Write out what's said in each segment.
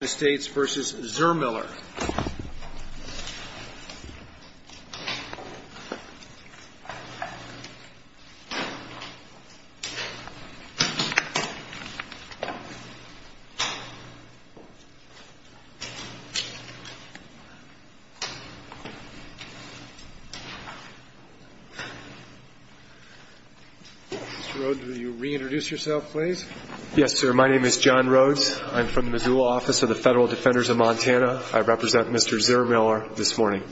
Mr. Rhodes, will you reintroduce yourself, please? Yes, sir. My name is John Rhodes. I'm from the Missoula Office of the Federal Defenders of Montana. I represent Mr. Zurmiller this morning.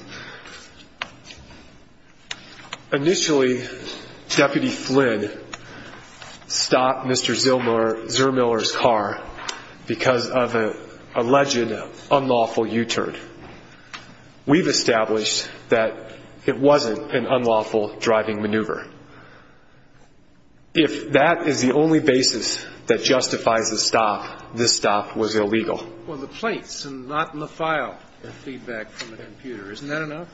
Initially, Deputy Flynn stopped Mr. Zurmiller's car because of an alleged unlawful U-turn. We've established that it wasn't an unlawful driving maneuver. If that is the only basis that justifies a stop, this stop was illegal. Well, the plates and not in the file are feedback from the computer. Isn't that enough?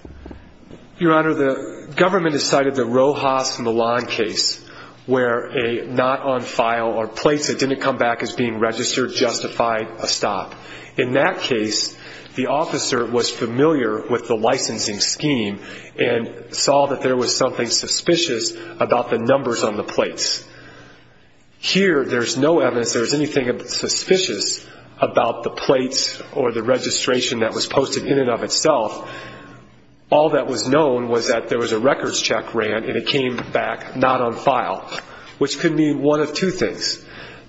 Your Honor, the government has cited the Rojas Milan case where a not on file or plates that didn't come back as being registered justified a stop. In that case, the officer was familiar with the licensing scheme and saw that there was something suspicious about the numbers on the plates. Here, there's no evidence there was anything suspicious about the plates or the registration that was posted in and of itself. All that was known was that there was a records check ran and it came back not on file, which could mean one of two things.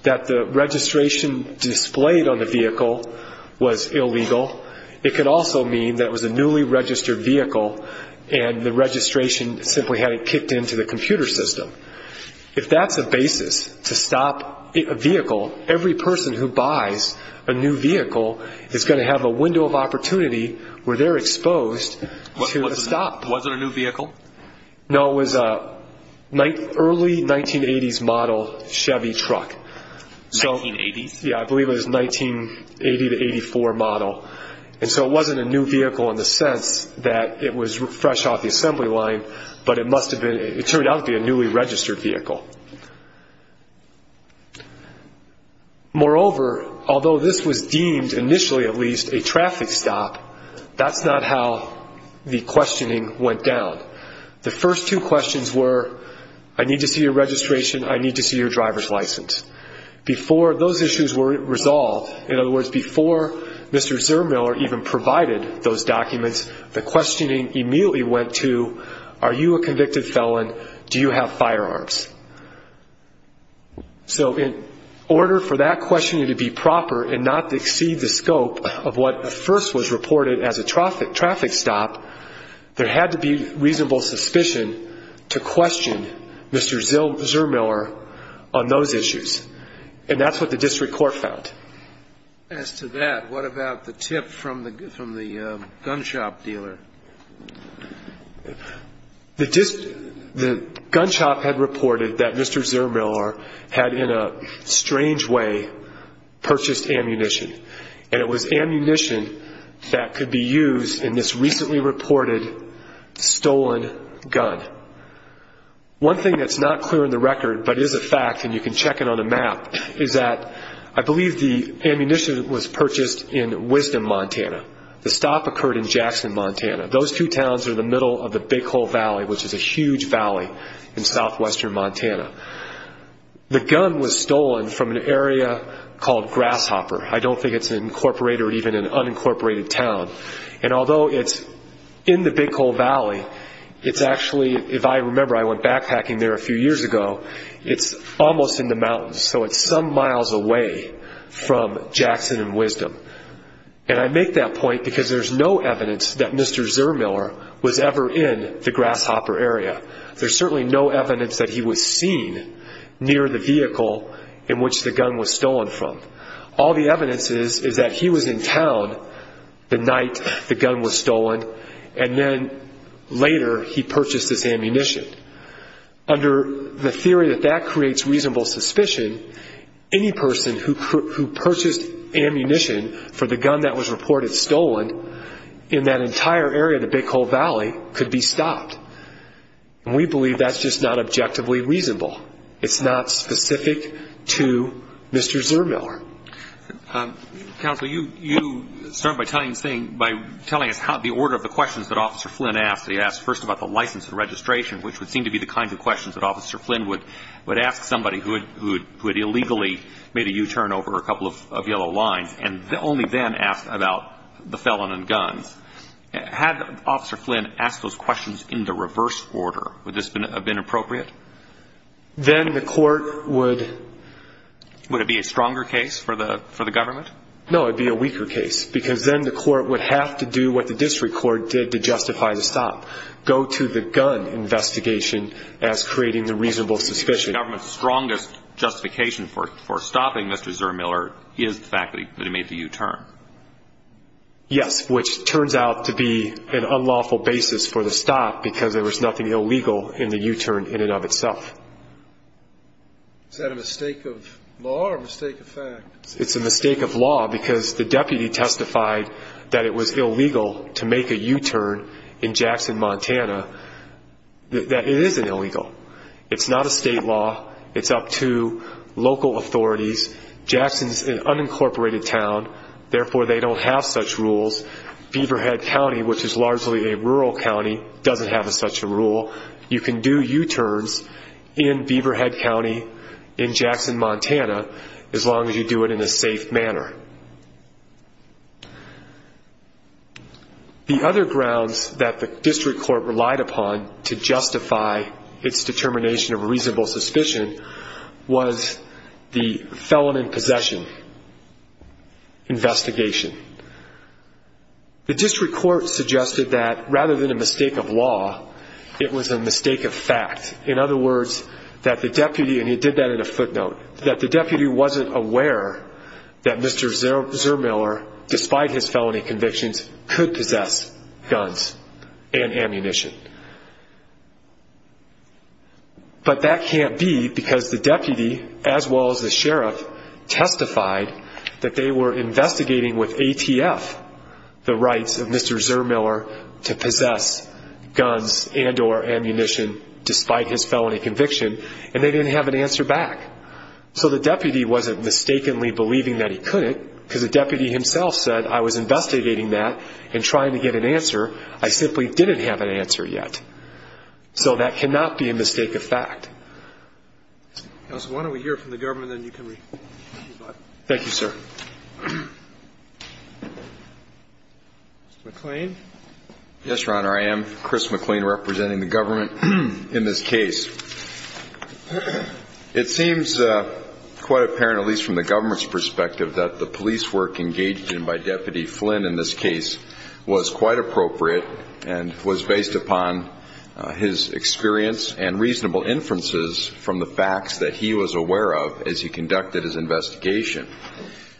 That the registration displayed on the vehicle was illegal. It could also mean that it was a newly registered vehicle and the registration simply had it kicked into the computer system. If that's a basis to stop a vehicle, every person who buys a new vehicle is going to have a window of opportunity where they're exposed to a stop. Was it a new vehicle? No, it was an early 1980s model Chevy truck. 1980s? Yeah, I believe it was a 1980 to 84 model. And so it wasn't a new vehicle in the sense that it was fresh off the assembly line, but it turned out to be a newly registered vehicle. Moreover, although this was deemed initially at least a traffic stop, that's not how the questioning went down. The first two questions were, I need to see your registration, I need to see your driver's license. Before those issues were resolved, in other words, before Mr. Zermiller even provided those documents, the questioning immediately went to, are you a convicted felon, do you have firearms? So in order for that questioning to be proper and not to exceed the scope of what at first was reported as a traffic stop, there had to be reasonable suspicion to question Mr. Zermiller on those issues, and that's what the district court found. As to that, what about the tip from the gun shop dealer? The gun shop had reported that Mr. Zermiller had in a strange way purchased ammunition, and it was ammunition that could be used in this recently reported stolen gun. One thing that's not clear in the record but is a fact, and you can check it on a map, is that I believe the ammunition was purchased in Wisdom, Montana. The stop occurred in Jackson, Montana. Those two towns are in the middle of the Big Hole Valley, which is a huge valley in southwestern Montana. The gun was stolen from an area called Grasshopper. I don't think it's an incorporated or even an unincorporated town. And although it's in the Big Hole Valley, it's actually, if I remember, I went backpacking there a few years ago, it's almost in the mountains, so it's some miles away from Jackson and Wisdom. And I make that point because there's no evidence that Mr. Zermiller was ever in the Grasshopper area. There's certainly no evidence that he was seen near the vehicle in which the gun was stolen from. All the evidence is that he was in town the night the gun was stolen, and then later he purchased this ammunition. Under the theory that that creates reasonable suspicion, any person who purchased ammunition for the gun that was reported stolen in that entire area of the Big Hole Valley could be stopped. And we believe that's just not objectively reasonable. It's not specific to Mr. Zermiller. Counsel, you started by telling us the order of the questions that Officer Flynn asked. He asked first about the license and registration, which would seem to be the kind of questions that Officer Flynn would ask somebody who had illegally made a U-turn over a couple of yellow lines and only then asked about the felon and guns. Had Officer Flynn asked those questions in the reverse order, would this have been appropriate? Then the court would... Would it be a stronger case for the government? No, it would be a weaker case because then the court would have to do what the district court did to justify the stop, go to the gun investigation as creating the reasonable suspicion. The government's strongest justification for stopping Mr. Zermiller is the fact that he made the U-turn. Yes, which turns out to be an unlawful basis for the stop because there was nothing illegal in the U-turn in and of itself. Is that a mistake of law or a mistake of fact? It's a mistake of law because the deputy testified that it was illegal to make a U-turn in Jackson, Montana, that it isn't illegal. It's not a state law. It's up to local authorities. Jackson's an unincorporated town. Therefore, they don't have such rules. Beaverhead County, which is largely a rural county, doesn't have such a rule. You can do U-turns in Beaverhead County, in Jackson, Montana, as long as you do it in a safe manner. The other grounds that the district court relied upon to justify its determination of a reasonable suspicion was the felon in possession investigation. The district court suggested that rather than a mistake of law, it was a mistake of fact. In other words, that the deputy, and he did that in a footnote, that the deputy wasn't aware that Mr. Zermiller, despite his felony convictions, could possess guns and ammunition. But that can't be because the deputy, as well as the sheriff, testified that they were investigating with ATF the rights of Mr. Zermiller to possess guns and or ammunition, despite his felony conviction, and they didn't have an answer back. So the deputy wasn't mistakenly believing that he couldn't, because the deputy himself said, I was investigating that and trying to get an answer. I simply didn't have an answer yet. So that cannot be a mistake of fact. Counsel, why don't we hear from the government and then you can respond. Thank you, sir. Mr. McLean. Yes, Your Honor. I am Chris McLean representing the government in this case. It seems quite apparent, at least from the government's perspective, that the police work engaged in by Deputy Flynn in this case was quite appropriate and was based upon his experience and reasonable inferences from the facts that he was aware of as he conducted his investigation.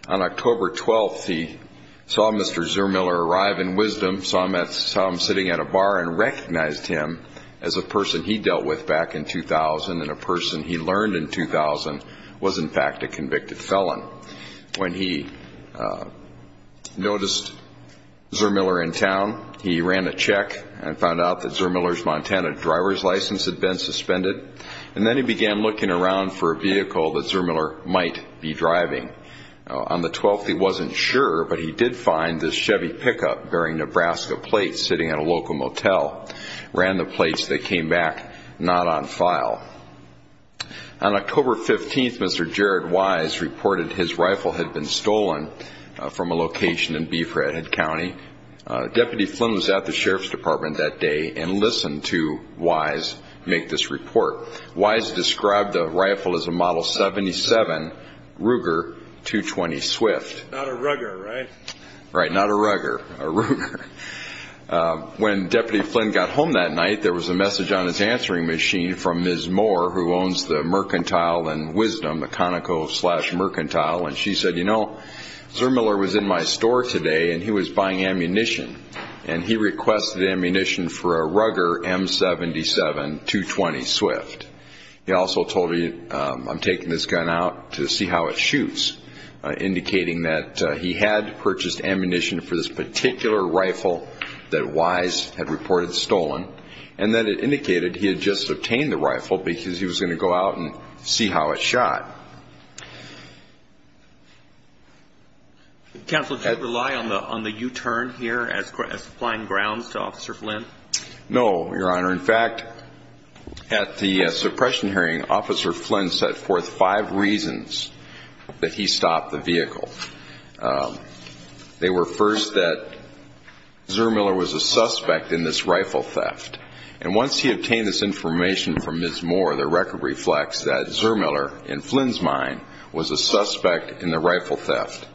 On October 12th, he saw Mr. Zermiller arrive in Wisdom, saw him sitting at a bar and recognized him as a person he dealt with back in 2000 and a person he learned in 2000 was, in fact, a convicted felon. When he noticed Zermiller in town, he ran a check and found out that Zermiller's Montana driver's license had been suspended, and then he began looking around for a vehicle that Zermiller might be driving. On the 12th, he wasn't sure, but he did find this Chevy pickup bearing Nebraska plates sitting at a local motel, ran the plates, they came back not on file. On October 15th, Mr. Jared Wise reported his rifle had been stolen from a location in Beef Redhead County. Deputy Flynn was at the Sheriff's Department that day and listened to Wise make this report. Wise described the rifle as a Model 77 Ruger 220 Swift. Not a Ruger, right? Right, not a Ruger, a Ruger. When Deputy Flynn got home that night, there was a message on his answering machine from Ms. Moore, who owns the Mercantile and Wisdom, the Conoco-slash-Mercantile, and she said, you know, Zermiller was in my store today and he was buying ammunition, and he requested ammunition for a Ruger M77 220 Swift. He also told me, I'm taking this gun out to see how it shoots, indicating that he had purchased ammunition for this particular rifle that Wise had reported stolen and that it indicated he had just obtained the rifle because he was going to go out and see how it shot. Counsel, did you rely on the U-turn here as applying grounds to Officer Flynn? No, Your Honor. Your Honor, in fact, at the suppression hearing, Officer Flynn set forth five reasons that he stopped the vehicle. They were, first, that Zermiller was a suspect in this rifle theft, and once he obtained this information from Ms. Moore, the record reflects that Zermiller, in Flynn's mind, was a suspect in the rifle theft.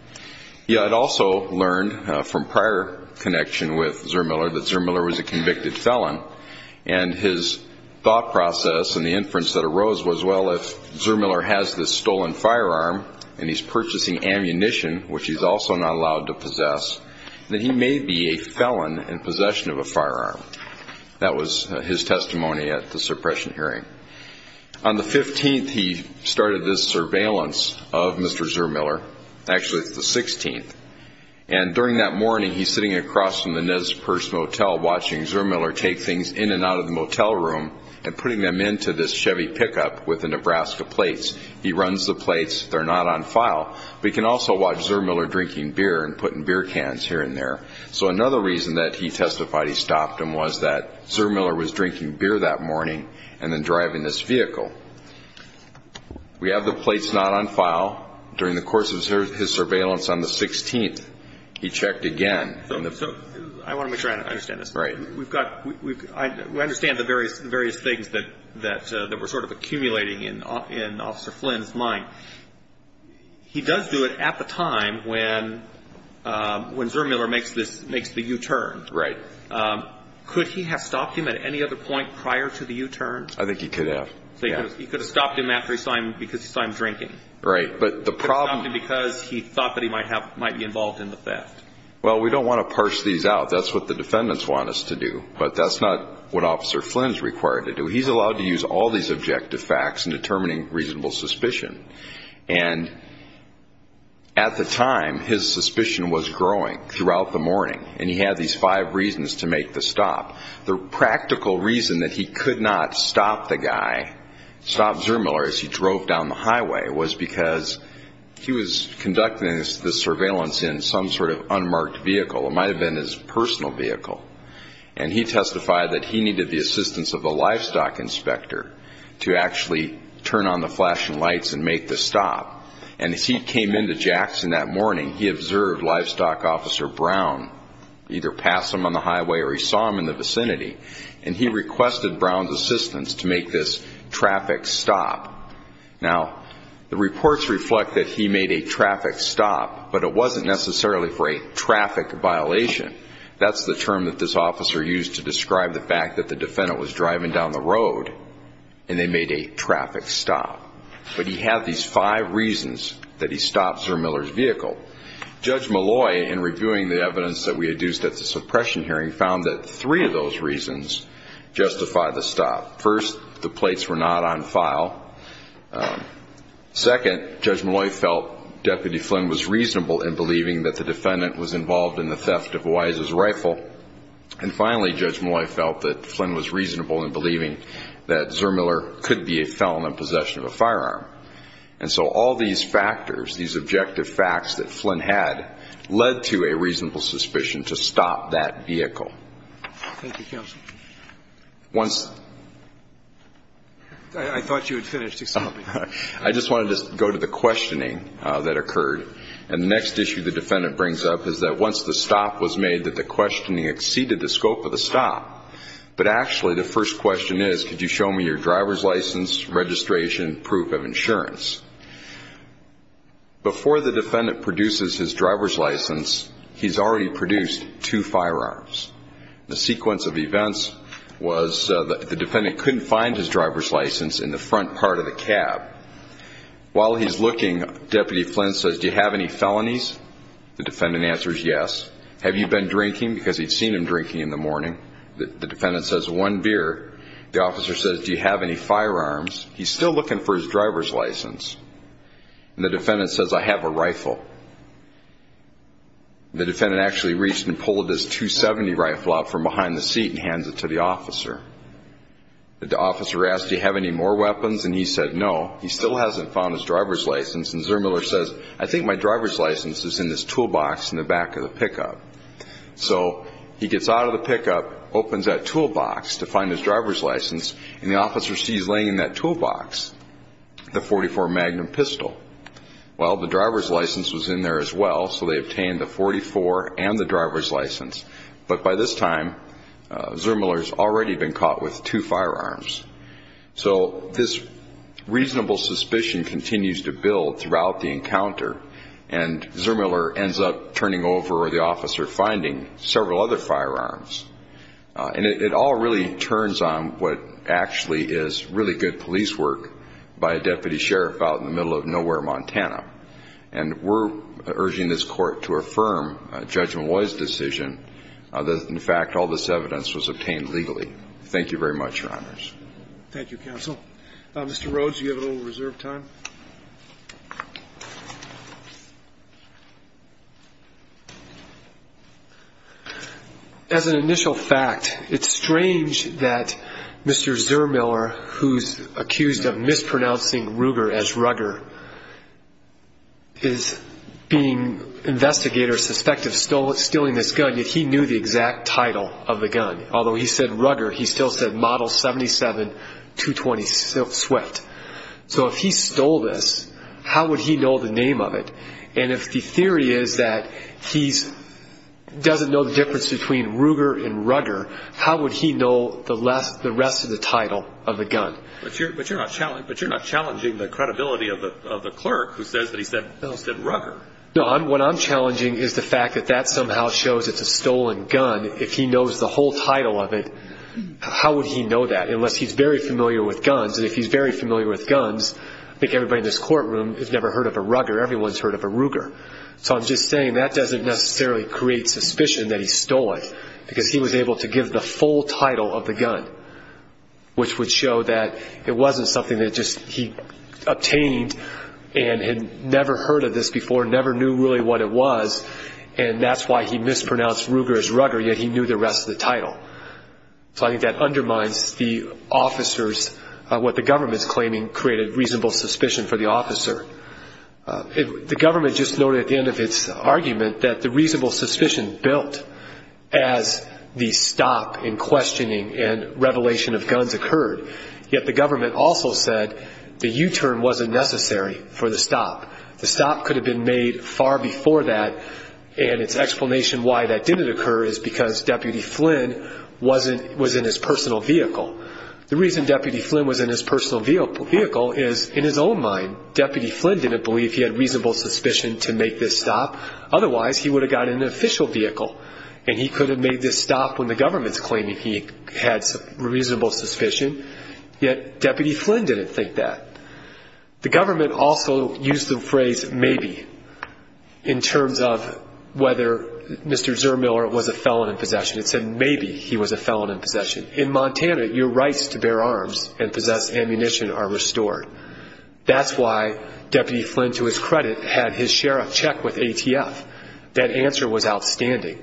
He had also learned from prior connection with Zermiller that Zermiller was a convicted felon, and his thought process and the inference that arose was, well, if Zermiller has this stolen firearm and he's purchasing ammunition, which he's also not allowed to possess, then he may be a felon in possession of a firearm. That was his testimony at the suppression hearing. On the 15th, he started this surveillance of Mr. Zermiller. Actually, it's the 16th. And during that morning, he's sitting across from the Nez Perce Motel, watching Zermiller take things in and out of the motel room and putting them into this Chevy pickup with the Nebraska plates. He runs the plates. They're not on file. But he can also watch Zermiller drinking beer and putting beer cans here and there. So another reason that he testified he stopped him was that Zermiller was drinking beer that morning and then driving this vehicle. We have the plates not on file. During the course of his surveillance on the 16th, he checked again. So I want to make sure I understand this. Right. We understand the various things that were sort of accumulating in Officer Flynn's mind. He does do it at the time when Zermiller makes the U-turn. Right. Could he have stopped him at any other point prior to the U-turn? I think he could have. He could have stopped him after he saw him because he saw him drinking. Right. But the problem is because he thought that he might be involved in the theft. Well, we don't want to parse these out. That's what the defendants want us to do. But that's not what Officer Flynn is required to do. He's allowed to use all these objective facts in determining reasonable suspicion. And at the time, his suspicion was growing throughout the morning, and he had these five reasons to make the stop. The practical reason that he could not stop the guy, stop Zermiller as he drove down the highway, was because he was conducting the surveillance in some sort of unmarked vehicle. It might have been his personal vehicle. And he testified that he needed the assistance of a livestock inspector to actually turn on the flashing lights and make the stop. And as he came into Jackson that morning, he observed Livestock Officer Brown, either pass him on the highway or he saw him in the vicinity, and he requested Brown's assistance to make this traffic stop. Now, the reports reflect that he made a traffic stop, but it wasn't necessarily for a traffic violation. That's the term that this officer used to describe the fact that the defendant was driving down the road and they made a traffic stop. But he had these five reasons that he stopped Zermiller's vehicle. Judge Malloy, in reviewing the evidence that we had used at the suppression hearing, found that three of those reasons justified the stop. First, the plates were not on file. Second, Judge Malloy felt Deputy Flynn was reasonable in believing that the defendant was involved in the theft of Wise's rifle. And finally, Judge Malloy felt that Flynn was reasonable in believing that Zermiller could be a felon in possession of a firearm. And so all these factors, these objective facts that Flynn had, led to a reasonable suspicion to stop that vehicle. Thank you, counsel. Once... I thought you had finished, excuse me. I just wanted to go to the questioning that occurred. And the next issue the defendant brings up is that once the stop was made, that the questioning exceeded the scope of the stop. But actually, the first question is, could you show me your driver's license, registration, proof of insurance? Before the defendant produces his driver's license, he's already produced two firearms. The sequence of events was the defendant couldn't find his driver's license in the front part of the cab. While he's looking, Deputy Flynn says, do you have any felonies? The defendant answers, yes. Have you been drinking? Because he'd seen him drinking in the morning. The defendant says, one beer. The officer says, do you have any firearms? He's still looking for his driver's license. And the defendant says, I have a rifle. The defendant actually reached and pulled his .270 rifle out from behind the seat and hands it to the officer. The officer asked, do you have any more weapons? And he said, no. He still hasn't found his driver's license. And Zurmuller says, I think my driver's license is in this toolbox in the back of the pickup. So he gets out of the pickup, opens that toolbox to find his driver's license, and the officer sees laying in that toolbox the .44 Magnum pistol. Well, the driver's license was in there as well, so they obtained the .44 and the driver's license. But by this time, Zurmuller's already been caught with two firearms. So this reasonable suspicion continues to build throughout the encounter, and Zurmuller ends up turning over or the officer finding several other firearms. And it all really turns on what actually is really good police work by a deputy sheriff out in the middle of nowhere, Montana. And we're urging this Court to affirm Judge Malloy's decision that, in fact, all this evidence was obtained legally. Thank you very much, Your Honors. Thank you, Counsel. Mr. Rhodes, you have a little reserve time. Thank you. As an initial fact, it's strange that Mr. Zurmuller, who's accused of mispronouncing Ruger as Rugger, is being investigated or suspected of stealing this gun, yet he knew the exact title of the gun. Although he said Rugger, he still said Model 77-220 Sweat. So if he stole this, how would he know the name of it? And if the theory is that he doesn't know the difference between Ruger and Rugger, how would he know the rest of the title of the gun? But you're not challenging the credibility of the clerk who says that he said Rugger. No, what I'm challenging is the fact that that somehow shows it's a stolen gun. If he knows the whole title of it, how would he know that, unless he's very familiar with guns? If he's very familiar with guns, I think everybody in this courtroom has never heard of a Rugger. Everyone's heard of a Ruger. So I'm just saying that doesn't necessarily create suspicion that he stole it, because he was able to give the full title of the gun, which would show that it wasn't something that he obtained and had never heard of this before, never knew really what it was, and that's why he mispronounced Ruger as Rugger, yet he knew the rest of the title. So I think that undermines the officers, what the government's claiming created reasonable suspicion for the officer. The government just noted at the end of its argument that the reasonable suspicion built as the stop in questioning and revelation of guns occurred, yet the government also said the U-turn wasn't necessary for the stop. The stop could have been made far before that, and its explanation why that didn't occur is because Deputy Flynn was in his personal vehicle. The reason Deputy Flynn was in his personal vehicle is, in his own mind, Deputy Flynn didn't believe he had reasonable suspicion to make this stop. Otherwise, he would have got in an official vehicle, and he could have made this stop when the government's claiming he had reasonable suspicion, yet Deputy Flynn didn't think that. The government also used the phrase maybe in terms of whether Mr. Zermiller was a felon in possession. It said maybe he was a felon in possession. In Montana, your rights to bear arms and possess ammunition are restored. That's why Deputy Flynn, to his credit, had his sheriff check with ATF. That answer was outstanding.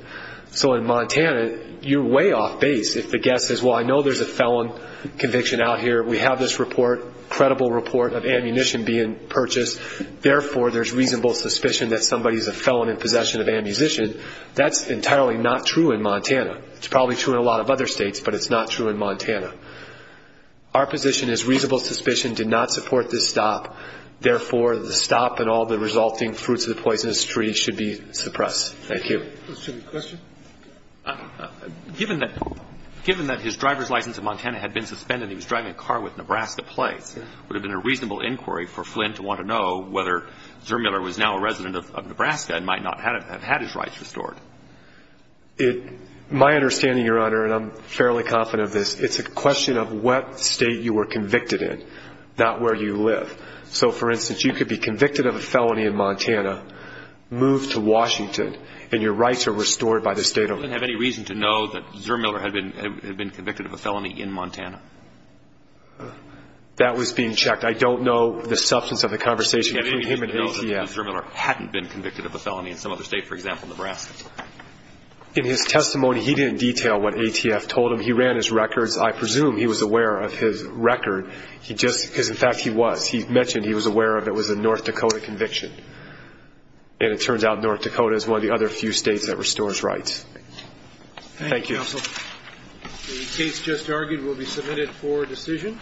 So in Montana, you're way off base if the guest says, well, I know there's a felon conviction out here. We have this report, credible report, of ammunition being purchased. Therefore, there's reasonable suspicion that somebody's a felon in possession of ammunition. That's entirely not true in Montana. It's probably true in a lot of other states, but it's not true in Montana. Our position is reasonable suspicion did not support this stop. Therefore, the stop and all the resulting fruits of the poisonous tree should be suppressed. Thank you. Let's take a question. Given that his driver's license in Montana had been suspended and he was driving a car with Nebraska plates, would it have been a reasonable inquiry for Flynn to want to know whether Zermiller was now a resident of Nebraska and might not have had his rights restored? My understanding, Your Honor, and I'm fairly confident of this, it's a question of what state you were convicted in, not where you live. So, for instance, you could be convicted of a felony in Montana, move to Washington, and your rights are restored by the state of Montana. He didn't have any reason to know that Zermiller had been convicted of a felony in Montana? That was being checked. I don't know the substance of the conversation between him and ATF. He didn't have any reason to know that Zermiller hadn't been convicted of a felony in some other state, for example, Nebraska? In his testimony, he didn't detail what ATF told him. He ran his records. I presume he was aware of his record. In fact, he was. He mentioned he was aware of it was a North Dakota conviction. And it turns out North Dakota is one of the other few states that restores rights. Thank you. Thank you, Counsel. The case just argued will be submitted for decision,